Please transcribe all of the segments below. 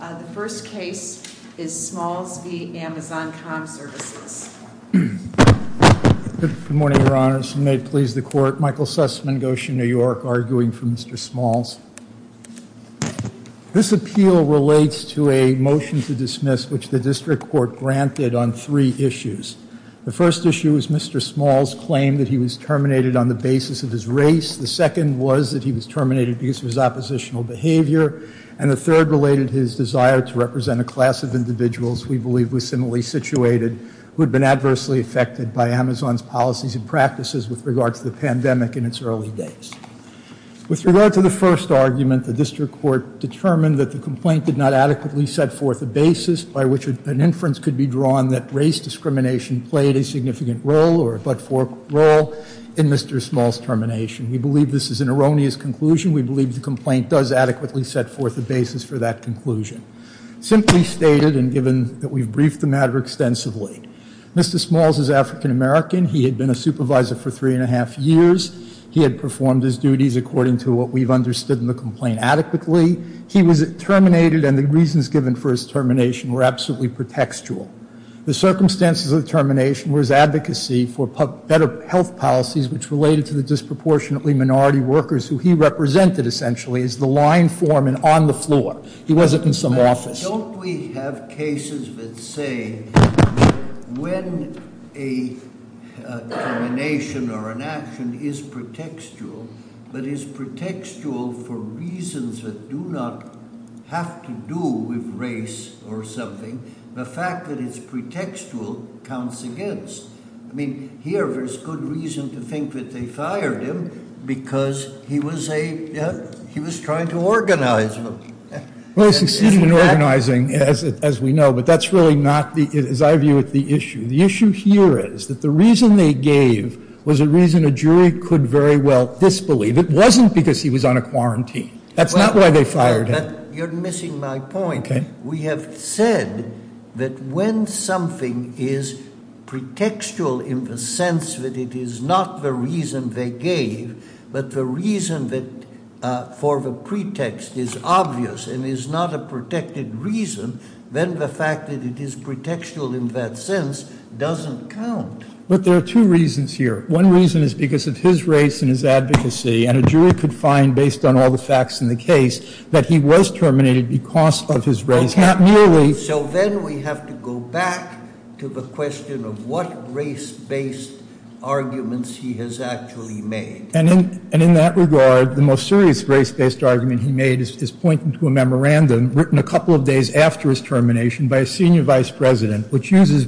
The first case is Smalls v. Amazon.com Services. Good morning, Your Honors, and may it please the Court. Michael Sussman, Goshen, New York, arguing for Mr. Smalls. This appeal relates to a motion to dismiss which the District Court granted on three issues. The first issue is Mr. Smalls' claim that he was terminated on the basis of his race. The second was that he was terminated because of his oppositional behavior. And the third related his desire to represent a class of individuals we believe was similarly situated who had been adversely affected by Amazon's policies and practices with regard to the pandemic in its early days. With regard to the first argument, the District Court determined that the complaint did not adequately set forth a basis by which an inference could be drawn that race discrimination played a significant role or a but-for role in Mr. Smalls' termination. We believe this is an erroneous conclusion. We believe the complaint does adequately set forth a basis for that conclusion. Simply stated and given that we've briefed the matter extensively, Mr. Smalls is African American. He had been a supervisor for three and a half years. He had performed his duties according to what we've understood in the complaint adequately. He was terminated and the reasons given for his termination were absolutely pretextual. The circumstances of the termination were his advocacy for better health policies which related to the disproportionately minority workers who he represented essentially as the line foreman on the floor. He wasn't in some office. Don't we have cases that say when a termination or an action is pretextual, but is pretextual for reasons that do not have to do with race or something, the fact that it's pretextual counts against. I mean, here there's good reason to think that they fired him because he was trying to organize them. Well, he succeeded in organizing, as we know, but that's really not, as I view it, the issue. The issue here is that the reason they gave was a reason a jury could very well disbelieve. It wasn't because he was on a quarantine. That's not why they fired him. You're missing my point. We have said that when something is pretextual in the sense that it is not the reason they gave, but the reason that for the pretext is obvious and is not a protected reason, then the fact that it is pretextual in that sense doesn't count. But there are two reasons here. One reason is because of his race and his advocacy, and a jury could find, based on all the facts in the case, that he was terminated because of his race, not merely. So then we have to go back to the question of what race-based arguments he has actually made. And in that regard, the most serious race-based argument he made is pointing to a memorandum written a couple of days after his termination by a senior vice president, which uses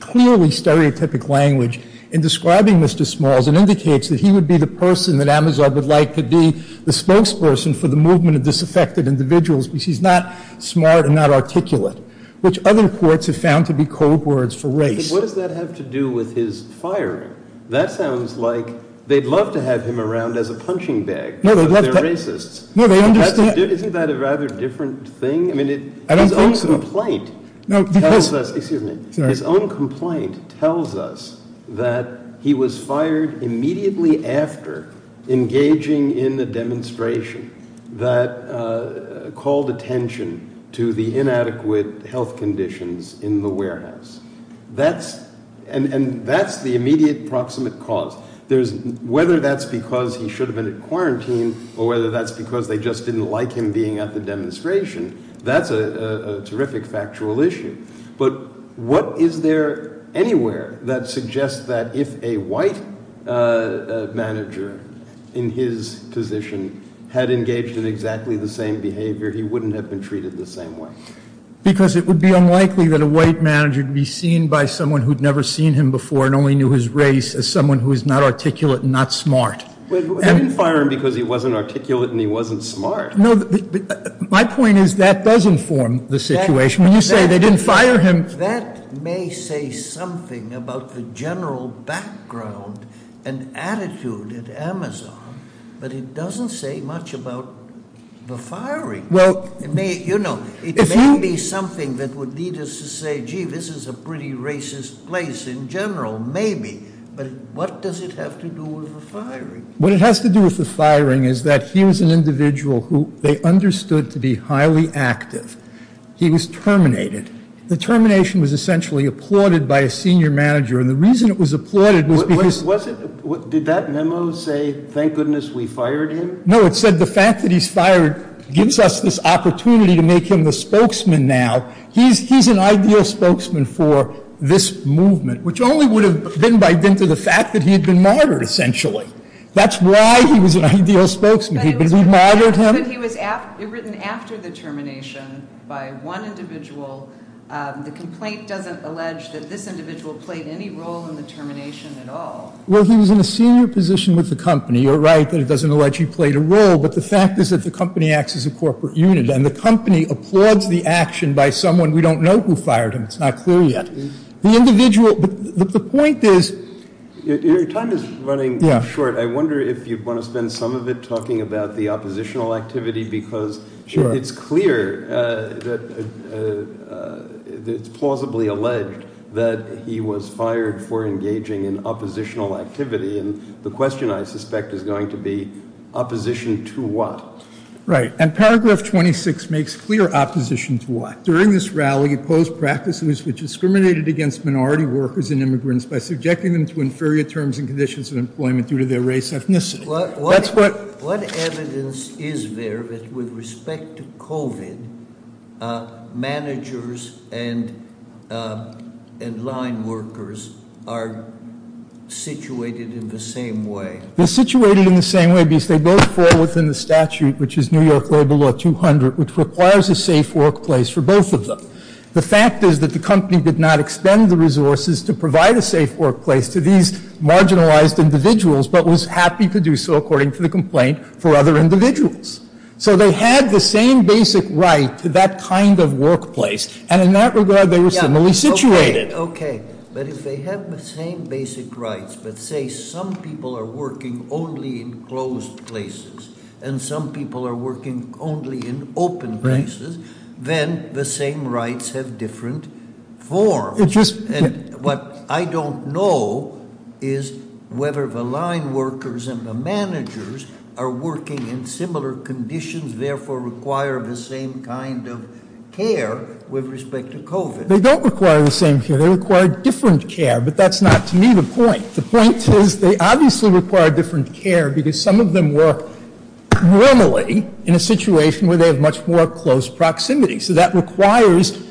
clearly stereotypic language in describing Mr. Smalls and indicates that he would be the person that Amazon would like to be the spokesperson for the movement of disaffected individuals because he's not smart and not articulate, which other courts have found to be code words for race. But what does that have to do with his firing? That sounds like they'd love to have him around as a punching bag because they're racists. Isn't that a rather different thing? His own complaint tells us that he was fired immediately after engaging in a demonstration that called attention to the inadequate health conditions in the warehouse. And that's the immediate proximate cause. Whether that's because he should have been in quarantine or whether that's because they just didn't like him being at the demonstration, that's a terrific factual issue. But what is there anywhere that suggests that if a white manager in his position had engaged in exactly the same behavior, he wouldn't have been treated the same way? Because it would be unlikely that a white manager could be seen by someone who'd never seen him before and only knew his race as someone who is not articulate and not smart. They didn't fire him because he wasn't articulate and he wasn't smart. My point is that does inform the situation. When you say they didn't fire him... That may say something about the general background and attitude at Amazon, but it doesn't say much about the firing. It may be something that would lead us to say, gee, this is a pretty racist place in general. Maybe. But what does it have to do with the firing? What it has to do with the firing is that he was an individual who they understood to be highly active. He was terminated. The termination was essentially applauded by a senior manager, and the reason it was applauded was because... Did that memo say, thank goodness we fired him? No, it said the fact that he's fired gives us this opportunity to make him the spokesman now. He's an ideal spokesman for this movement, which only would have been by dint of the fact that he had been martyred, essentially. That's why he was an ideal spokesman. He martyred him. But it was written after the termination by one individual. The complaint doesn't allege that this individual played any role in the termination at all. Well, he was in a senior position with the company. You're right that it doesn't allege he played a role, but the fact is that the company acts as a corporate unit, and the company applauds the action by someone we don't know who fired him. It's not clear yet. The point is... Your time is running short. I wonder if you'd want to spend some of it talking about the oppositional activity, because it's clear that it's plausibly alleged that he was fired for engaging in oppositional activity, and the question, I suspect, is going to be opposition to what? Right. And paragraph 26 makes clear opposition to what. During this rally, he opposed practices which discriminated against minority workers and immigrants by subjecting them to inferior terms and conditions of employment due to their race, ethnicity. What evidence is there that with respect to COVID, managers and line workers are situated in the same way? They're situated in the same way because they both fall within the statute, which is New York Labor Law 200, which requires a safe workplace for both of them. The fact is that the company did not expend the resources to provide a safe workplace to these marginalized individuals, but was happy to do so, according to the complaint, for other individuals. So they had the same basic right to that kind of workplace, and in that regard, they were similarly situated. Okay. But if they have the same basic rights, but say some people are working only in closed places and some people are working only in open places, then the same rights have different forms. What I don't know is whether the line workers and the managers are working in similar conditions, therefore require the same kind of care with respect to COVID. They don't require the same care. They require different care, but that's not, to me, the point. The point is they obviously require different care because some of them work normally in a situation where they have much more close proximity. So that requires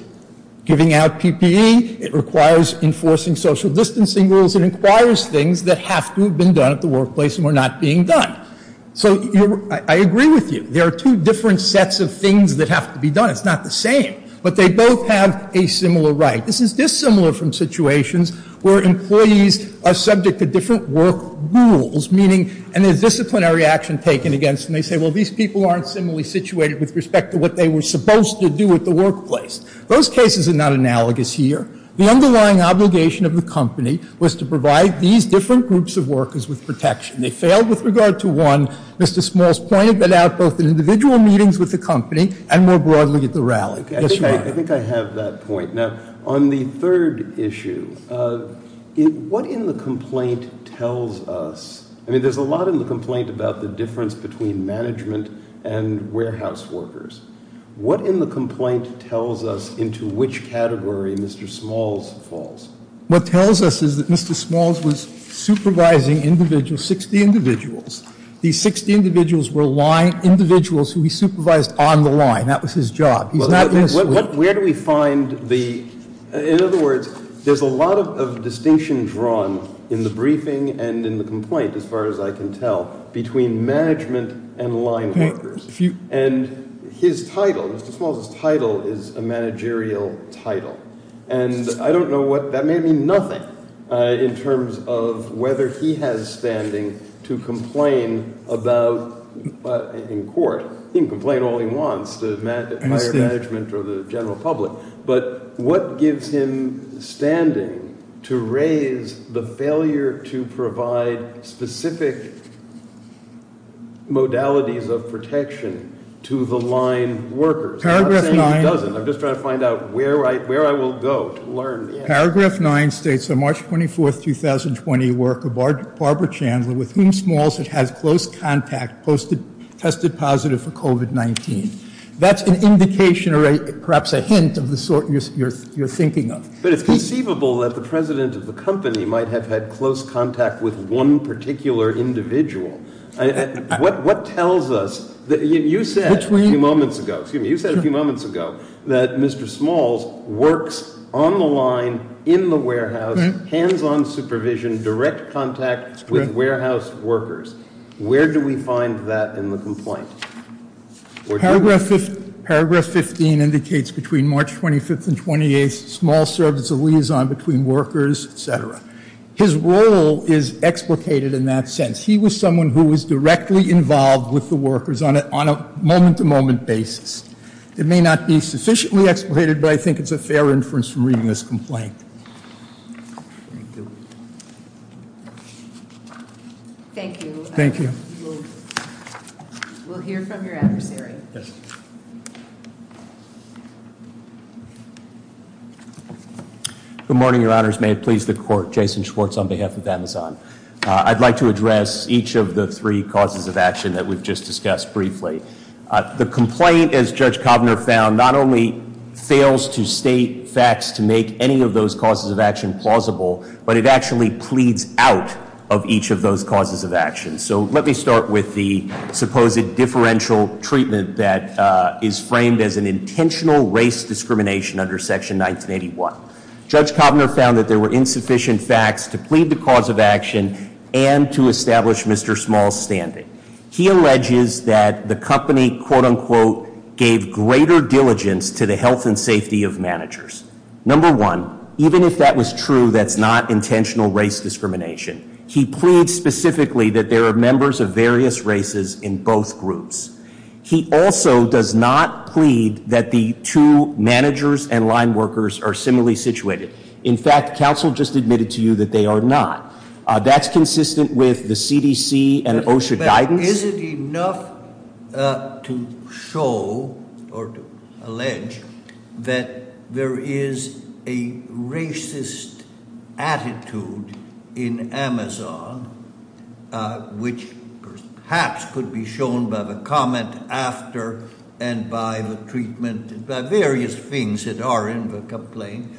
giving out PPE. It requires enforcing social distancing rules. It requires things that have to have been done at the workplace and were not being done. So I agree with you. There are two different sets of things that have to be done. It's not the same. But they both have a similar right. This is dissimilar from situations where employees are subject to different work rules, meaning, and there's disciplinary action taken against them. They say, well, these people aren't similarly situated with respect to what they were supposed to do at the workplace. Those cases are not analogous here. The underlying obligation of the company was to provide these different groups of workers with protection. They failed with regard to one. Mr. Smalls pointed that out both in individual meetings with the company and more broadly at the rally. Yes, Your Honor. I think I have that point. Now, on the third issue, what in the complaint tells us? I mean, there's a lot in the complaint about the difference between management and warehouse workers. What in the complaint tells us into which category Mr. Smalls falls? What tells us is that Mr. Smalls was supervising individuals, 60 individuals. These 60 individuals were line individuals who he supervised on the line. That was his job. He's not innocent. Where do we find the, in other words, there's a lot of distinction drawn in the briefing and in the complaint. As far as I can tell, between management and line workers. And his title, Mr. Smalls' title is a managerial title. And I don't know what, that may mean nothing in terms of whether he has standing to complain about in court. He can complain all he wants to management or the general public. But what gives him standing to raise the failure to provide specific modalities of protection to the line workers? I'm not saying he doesn't. I'm just trying to find out where I will go to learn. Paragraph 9 states on March 24th, 2020 work of Barbara Chandler with whom Smalls had had close contact, tested positive for COVID-19. That's an indication or perhaps a hint of the sort you're thinking of. But it's conceivable that the president of the company might have had close contact with one particular individual. What tells us that you said a few moments ago, excuse me, you said a few moments ago that Mr. Smalls works on the line in the warehouse, hands-on supervision, direct contact with warehouse workers. Where do we find that in the complaint? Paragraph 15 indicates between March 25th and 28th, Smalls served as a liaison between workers, etc. His role is explicated in that sense. He was someone who was directly involved with the workers on a moment-to-moment basis. It may not be sufficiently explicated, but I think it's a fair inference from reading this complaint. Thank you. Thank you. We'll hear from your adversary. Good morning, your honors. May it please the court. Jason Schwartz on behalf of Amazon. I'd like to address each of the three causes of action that we've just discussed briefly. The complaint, as Judge Kovner found, not only fails to state facts to make any of those causes of action plausible, but it actually pleads out of each of those causes of action. So let me start with the supposed differential treatment that is framed as an intentional race discrimination under Section 1981. Judge Kovner found that there were insufficient facts to plead the cause of action and to establish Mr. Smalls' standing. He alleges that the company, quote, unquote, gave greater diligence to the health and safety of managers. Number one, even if that was true, that's not intentional race discrimination. He pleads specifically that there are members of various races in both groups. He also does not plead that the two managers and line workers are similarly situated. In fact, counsel just admitted to you that they are not. That's consistent with the CDC and OSHA guidance. Now, is it enough to show or to allege that there is a racist attitude in Amazon, which perhaps could be shown by the comment after and by the treatment and by various things that are in the complaint,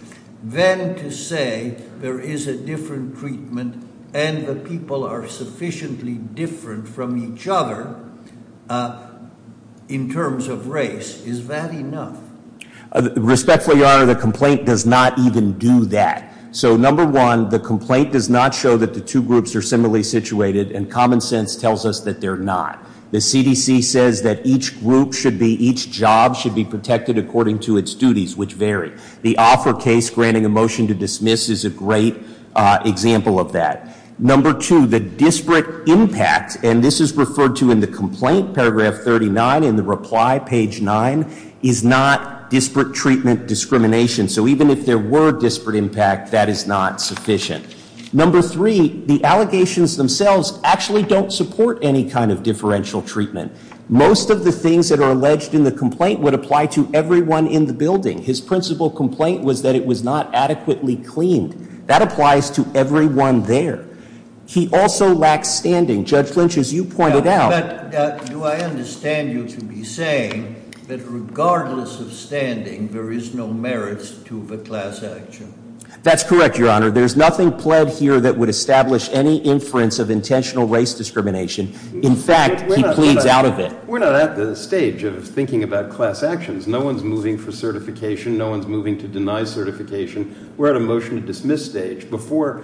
than to say there is a different treatment and the people are sufficiently different from each other in terms of race? Is that enough? Respectfully, Your Honor, the complaint does not even do that. So, number one, the complaint does not show that the two groups are similarly situated, and common sense tells us that they're not. The CDC says that each group should be, each job should be protected according to its duties, which vary. The Offer case granting a motion to dismiss is a great example of that. Number two, the disparate impact, and this is referred to in the complaint, paragraph 39, in the reply, page nine, is not disparate treatment discrimination. So, even if there were disparate impact, that is not sufficient. Number three, the allegations themselves actually don't support any kind of differential treatment. Most of the things that are alleged in the complaint would apply to everyone in the building. His principal complaint was that it was not adequately cleaned. That applies to everyone there. He also lacks standing. Judge Lynch, as you pointed out- But, do I understand you to be saying that regardless of standing, there is no merits to the class action? That's correct, Your Honor. There's nothing pled here that would establish any inference of intentional race discrimination. In fact, he pleads out of it. We're not at the stage of thinking about class actions. No one's moving for certification. No one's moving to deny certification. We're at a motion to dismiss stage. Before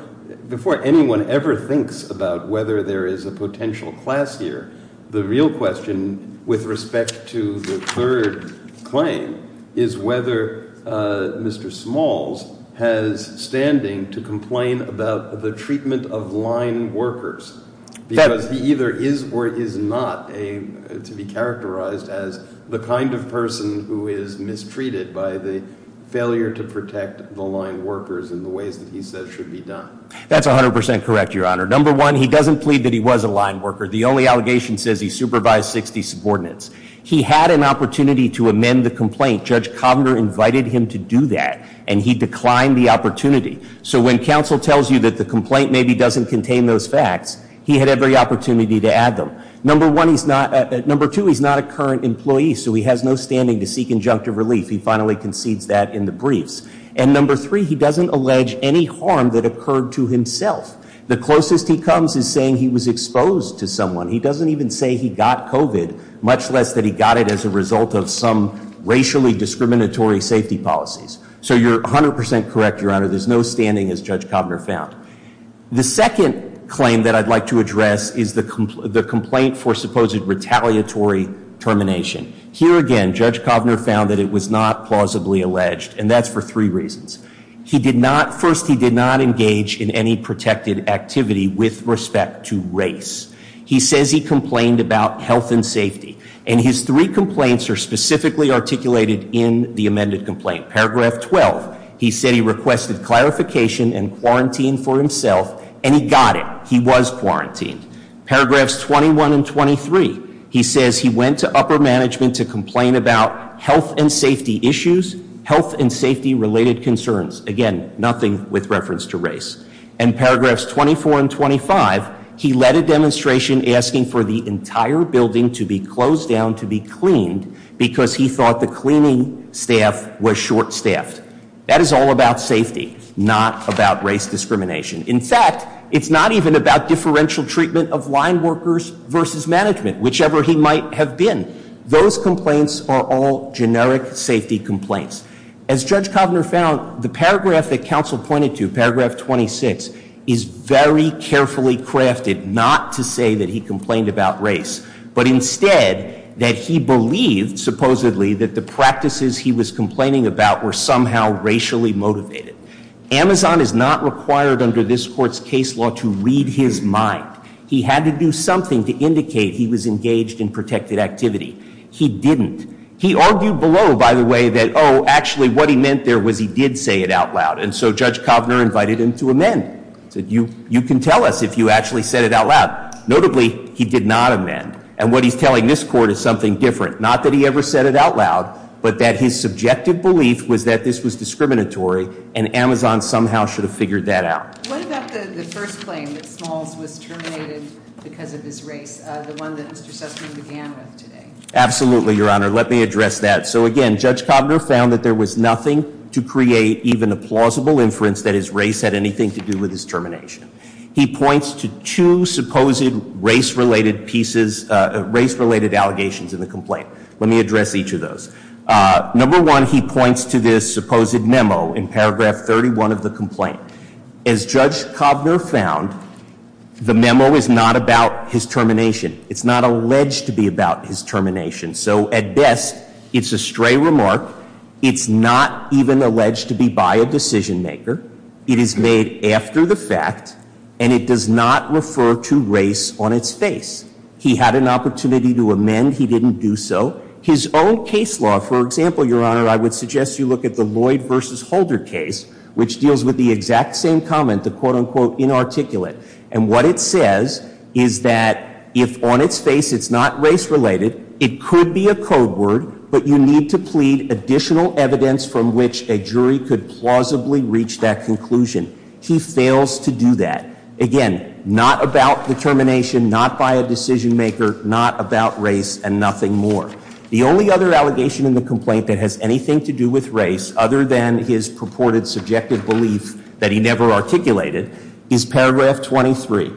anyone ever thinks about whether there is a potential class here, the real question with respect to the third claim is whether Mr. Smalls has standing to complain about the treatment of line workers. Because he either is or is not to be characterized as the kind of person who is mistreated by the failure to protect the line workers in the ways that he says should be done. That's 100% correct, Your Honor. Number one, he doesn't plead that he was a line worker. The only allegation says he supervised 60 subordinates. He had an opportunity to amend the complaint. Judge Kovner invited him to do that, and he declined the opportunity. So when counsel tells you that the complaint maybe doesn't contain those facts, he had every opportunity to add them. Number two, he's not a current employee, so he has no standing to seek injunctive relief. He finally concedes that in the briefs. And number three, he doesn't allege any harm that occurred to himself. The closest he comes is saying he was exposed to someone. He doesn't even say he got COVID, much less that he got it as a result of some racially discriminatory safety policies. So you're 100% correct, Your Honor. There's no standing, as Judge Kovner found. The second claim that I'd like to address is the complaint for supposed retaliatory termination. Here again, Judge Kovner found that it was not plausibly alleged, and that's for three reasons. First, he did not engage in any protected activity with respect to race. He says he complained about health and safety. And his three complaints are specifically articulated in the amended complaint. Paragraph 12, he said he requested clarification and quarantine for himself, and he got it. He was quarantined. Paragraphs 21 and 23, he says he went to upper management to complain about health and safety issues, health and safety-related concerns. And paragraphs 24 and 25, he led a demonstration asking for the entire building to be closed down to be cleaned, because he thought the cleaning staff was short-staffed. That is all about safety, not about race discrimination. In fact, it's not even about differential treatment of line workers versus management, whichever he might have been. Those complaints are all generic safety complaints. As Judge Kovner found, the paragraph that counsel pointed to, paragraph 26, is very carefully crafted not to say that he complained about race, but instead that he believed, supposedly, that the practices he was complaining about were somehow racially motivated. Amazon is not required under this Court's case law to read his mind. He had to do something to indicate he was engaged in protected activity. He didn't. He argued below, by the way, that, oh, actually, what he meant there was he did say it out loud. And so Judge Kovner invited him to amend. He said, you can tell us if you actually said it out loud. Notably, he did not amend. And what he's telling this Court is something different. Not that he ever said it out loud, but that his subjective belief was that this was discriminatory, and Amazon somehow should have figured that out. What about the first claim that Smalls was terminated because of his race, the one that Mr. Sussman began with today? Absolutely, Your Honor. Let me address that. So, again, Judge Kovner found that there was nothing to create even a plausible inference that his race had anything to do with his termination. He points to two supposed race-related allegations in the complaint. Let me address each of those. Number one, he points to this supposed memo in paragraph 31 of the complaint. As Judge Kovner found, the memo is not about his termination. So, at best, it's a stray remark. It's not even alleged to be by a decision-maker. It is made after the fact, and it does not refer to race on its face. He had an opportunity to amend. He didn't do so. His own case law, for example, Your Honor, I would suggest you look at the Lloyd v. Holder case, which deals with the exact same comment, the quote, unquote, inarticulate. And what it says is that if on its face it's not race-related, it could be a code word, but you need to plead additional evidence from which a jury could plausibly reach that conclusion. He fails to do that. Again, not about the termination, not by a decision-maker, not about race, and nothing more. The only other allegation in the complaint that has anything to do with race, other than his purported subjective belief that he never articulated, is paragraph 23,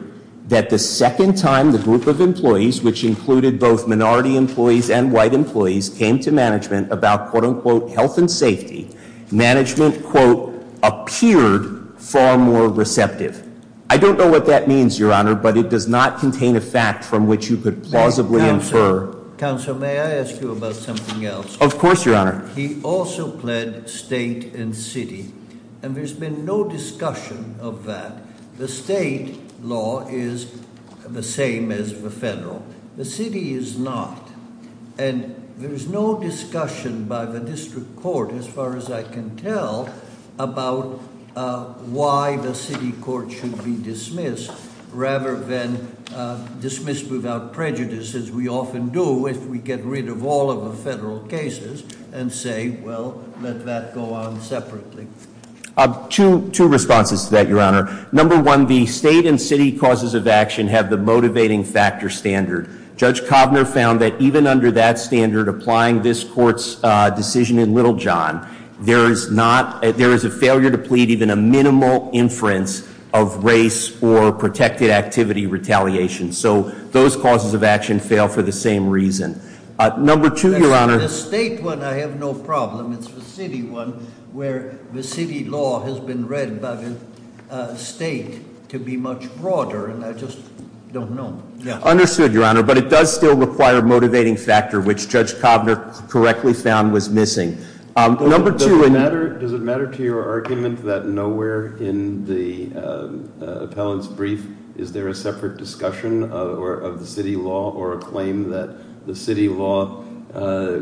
that the second time the group of employees, which included both minority employees and white employees, came to management about, quote, unquote, health and safety, management, quote, appeared far more receptive. I don't know what that means, Your Honor, but it does not contain a fact from which you could plausibly infer. Counsel, may I ask you about something else? Of course, Your Honor. He also pled state and city, and there's been no discussion of that. The state law is the same as the federal. The city is not. And there's no discussion by the district court, as far as I can tell, about why the city court should be dismissed rather than dismissed without prejudice, as we often do if we get rid of all of the federal cases. And say, well, let that go on separately. Two responses to that, Your Honor. Number one, the state and city causes of action have the motivating factor standard. Judge Kovner found that even under that standard, applying this court's decision in Little John, there is a failure to plead even a minimal inference of race or protected activity retaliation. So those causes of action fail for the same reason. Number two, Your Honor- The state one, I have no problem. It's the city one, where the city law has been read by the state to be much broader, and I just don't know. Understood, Your Honor. But it does still require a motivating factor, which Judge Kovner correctly found was missing. Number two- Does it matter to your argument that nowhere in the appellant's brief is there a separate discussion of the city law or a claim that the city law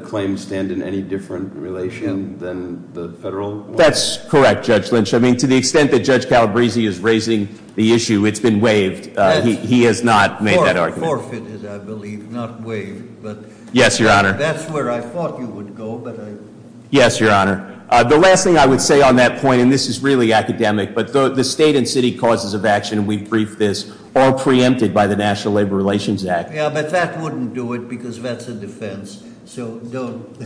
claims stand in any different relation than the federal one? That's correct, Judge Lynch. I mean, to the extent that Judge Calabresi is raising the issue, it's been waived. He has not made that argument. Forfeit is, I believe, not waived, but- Yes, Your Honor. That's where I thought you would go, but I- Yes, Your Honor. The last thing I would say on that point, and this is really academic, but the state and city causes of action, and we briefed this, are preempted by the National Labor Relations Act. Yeah, but that wouldn't do it because that's a defense, so don't-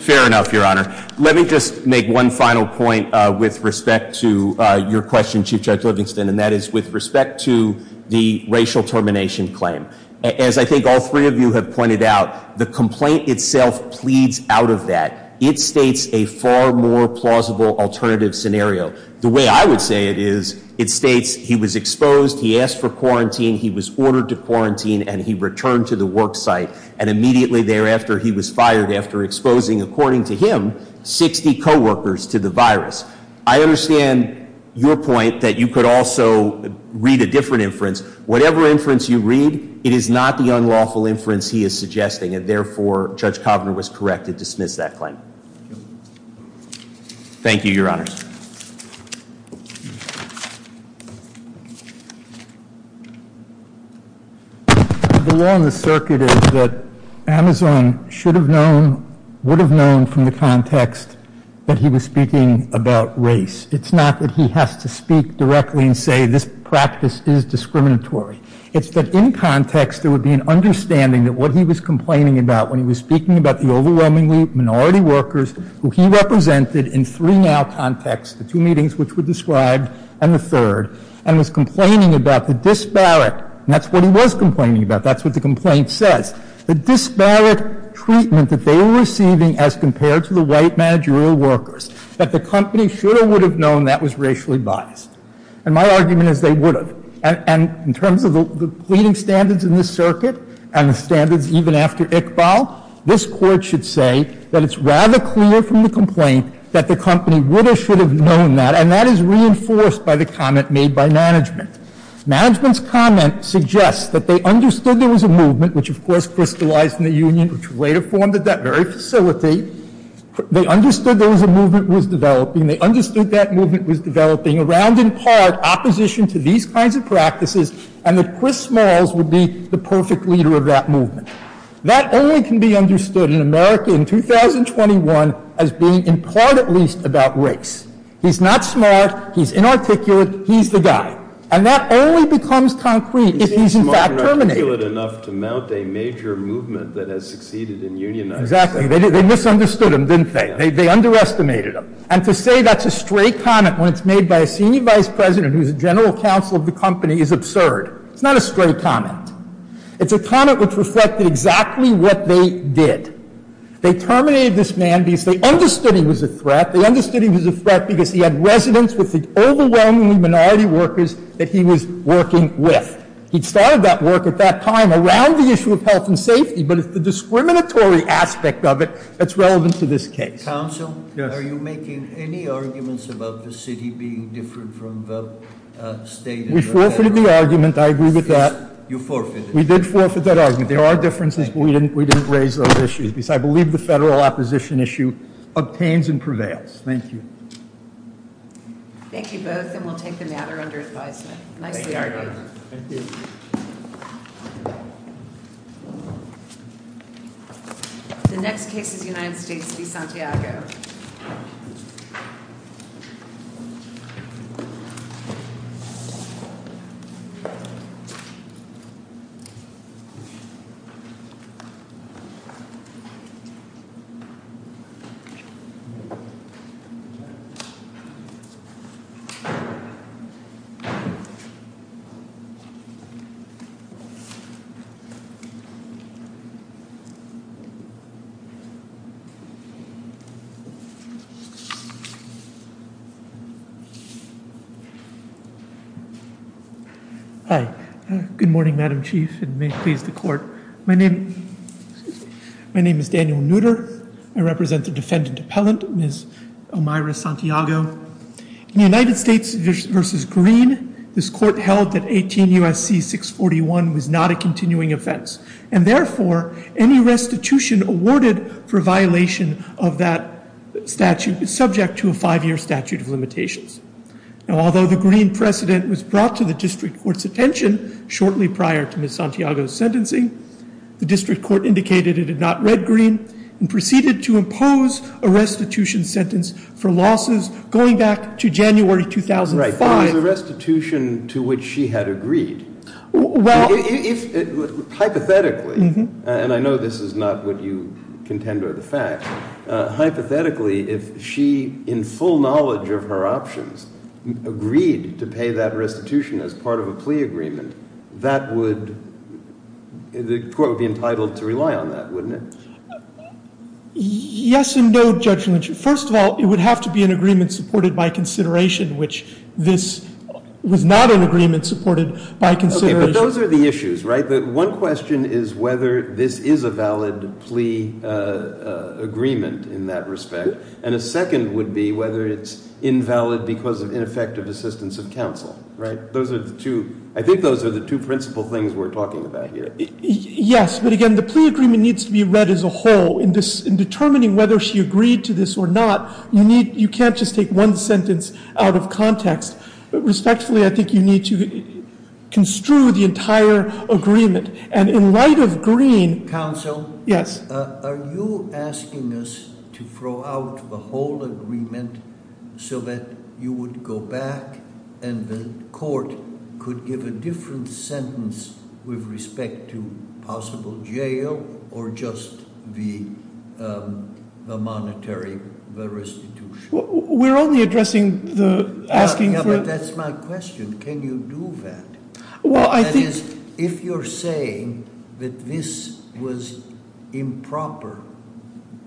Fair enough, Your Honor. Let me just make one final point with respect to your question, Chief Judge Livingston, and that is with respect to the racial termination claim. As I think all three of you have pointed out, the complaint itself pleads out of that. It states a far more plausible alternative scenario. The way I would say it is it states he was exposed, he asked for quarantine, he was ordered to quarantine, and he returned to the work site, and immediately thereafter he was fired after exposing, according to him, 60 co-workers to the virus. I understand your point that you could also read a different inference. Whatever inference you read, it is not the unlawful inference he is suggesting, and therefore, Judge Kovner was correct to dismiss that claim. Thank you, Your Honors. The law in the circuit is that Amazon should have known, would have known, from the context that he was speaking about race. It's not that he has to speak directly and say this practice is discriminatory. It's that in context there would be an understanding that what he was complaining about when he was speaking about the overwhelmingly minority workers who he represented in three now contexts, the two meetings which were described, and the third, and was complaining about the disparate, and that's what he was complaining about, that's what the complaint says, the disparate treatment that they were receiving as compared to the white managerial workers, that the company should or would have known that was racially biased. And my argument is they would have. And in terms of the pleading standards in this circuit and the standards even after Iqbal, this Court should say that it's rather clear from the complaint that the company would or should have known that, and that is reinforced by the comment made by management. Management's comment suggests that they understood there was a movement which, of course, crystallized in the union which later formed at that very facility. They understood there was a movement that was developing. They understood that movement was developing around in part opposition to these kinds of practices, and that Chris Smalls would be the perfect leader of that movement. That only can be understood in America in 2021 as being in part at least about race. He's not smart. He's inarticulate. He's the guy. And that only becomes concrete if he's in fact terminated. Kennedy. He seems smart and articulate enough to mount a major movement that has succeeded in unionizing. They misunderstood him, didn't they? They underestimated him. And to say that's a stray comment when it's made by a senior vice president who's a general counsel of the company is absurd. It's not a stray comment. It's a comment which reflected exactly what they did. They terminated this man because they understood he was a threat. They understood he was a threat because he had residence with the overwhelmingly minority workers that he was working with. He started that work at that time around the issue of health and safety, but it's the discriminatory aspect of it that's relevant to this case. Counsel, are you making any arguments about the city being different from the state? We forfeited the argument. I agree with that. You forfeited. We did forfeit that argument. There are differences, but we didn't raise those issues because I believe the federal opposition issue obtains and prevails. Thank you. Thank you both, and we'll take the matter under advisement. Nicely argued. Thank you. The next case is United States v. Santiago. Good morning, Madam Chief, and may it please the court. My name is Daniel Nutter. I represent the defendant appellant, Ms. Omayra Santiago. In United States v. Green, this court held that 18 U.S.C. 641 was not a continuing offense, and therefore, any restitution awarded for violation of that statute is subject to a five-year statute of limitations. Now, although the Green precedent was brought to the district court's attention shortly prior to Ms. Santiago's sentencing, the district court indicated it had not read Green and was not going back to January 2005. Right, but it was a restitution to which she had agreed. Well... Hypothetically, and I know this is not what you contend or the fact, hypothetically, if she, in full knowledge of her options, agreed to pay that restitution as part of a plea agreement, that would, the court would be entitled to rely on that, wouldn't it? Yes and no, Judge Lynch. First of all, it would have to be an agreement supported by consideration, which this was not an agreement supported by consideration. Okay, but those are the issues, right? One question is whether this is a valid plea agreement in that respect, and a second would be whether it's invalid because of ineffective assistance of counsel, right? Those are the two, I think those are the two principal things we're talking about here. Yes, but again, the plea agreement needs to be read as a whole. In determining whether she agreed to this or not, you need, you can't just take one sentence out of context. Respectfully, I think you need to construe the entire agreement. And in light of Green... Counsel? Yes. Are you asking us to throw out the whole agreement so that you would go back and the court could give a different sentence with respect to possible jail or just the monetary restitution? We're only addressing the asking for... Yeah, but that's my question. Can you do that? Well, I think... That is, if you're saying that this was improper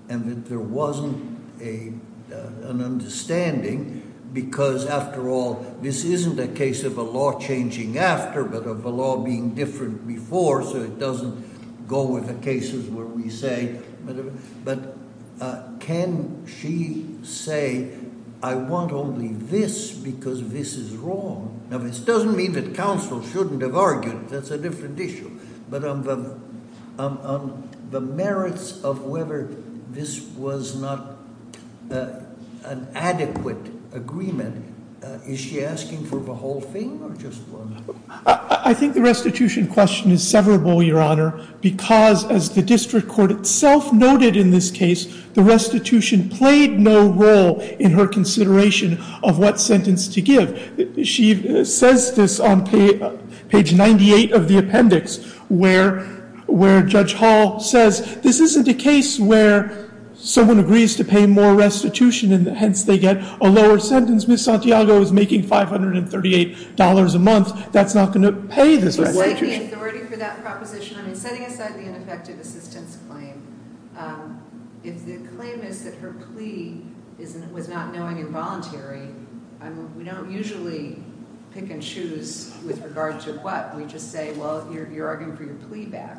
and that there wasn't an understanding because after all, this isn't a case of a law changing after but of a law being different before so it doesn't go with the cases where we say... But can she say, I want only this because this is wrong? Now, this doesn't mean that counsel shouldn't have argued, that's a different issue. But on the merits of whether this was not an adequate agreement, is she asking for the whole thing or just one? I think the restitution question is severable, Your Honor, because as the district court itself noted in this case, the restitution played no role in her consideration of what sentence to give. She says this on page 98 of the appendix where Judge Hall says, this isn't a case where someone agrees to pay more restitution and hence they get a lower sentence. Ms. Santiago is making $538 a month. That's not going to pay this restitution. Setting aside the authority for that proposition, I mean, setting aside the ineffective assistance claim, if the claim is that her plea was not knowing and voluntary, we don't usually pick and choose with regard to what. We just say, well, you're arguing for your plea back.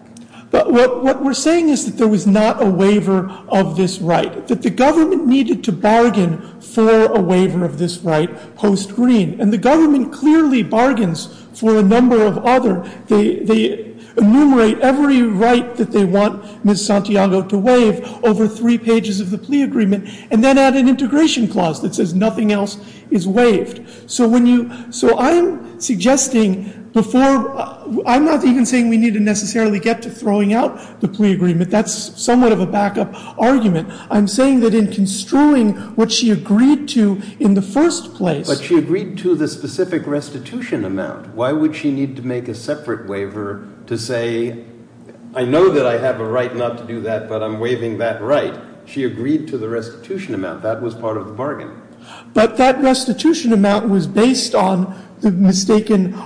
But what we're saying is that there was not a waiver of this right, that the government needed to bargain for a waiver of this right post-Green And the government clearly bargains for a number of other. They enumerate every right that they want Ms. Santiago to waive over three pages of the plea agreement and then add an integration clause that says nothing else is waived. So when you – so I'm suggesting before – I'm not even saying we need to necessarily get to throwing out the plea agreement. That's somewhat of a backup argument. I'm saying that in construing what she agreed to in the first place But she agreed to the specific restitution amount. Why would she need to make a separate waiver to say I know that I have a right not to do that, but I'm waiving that right? She agreed to the restitution amount. That was part of the bargain. But that restitution amount was based on the mistaken –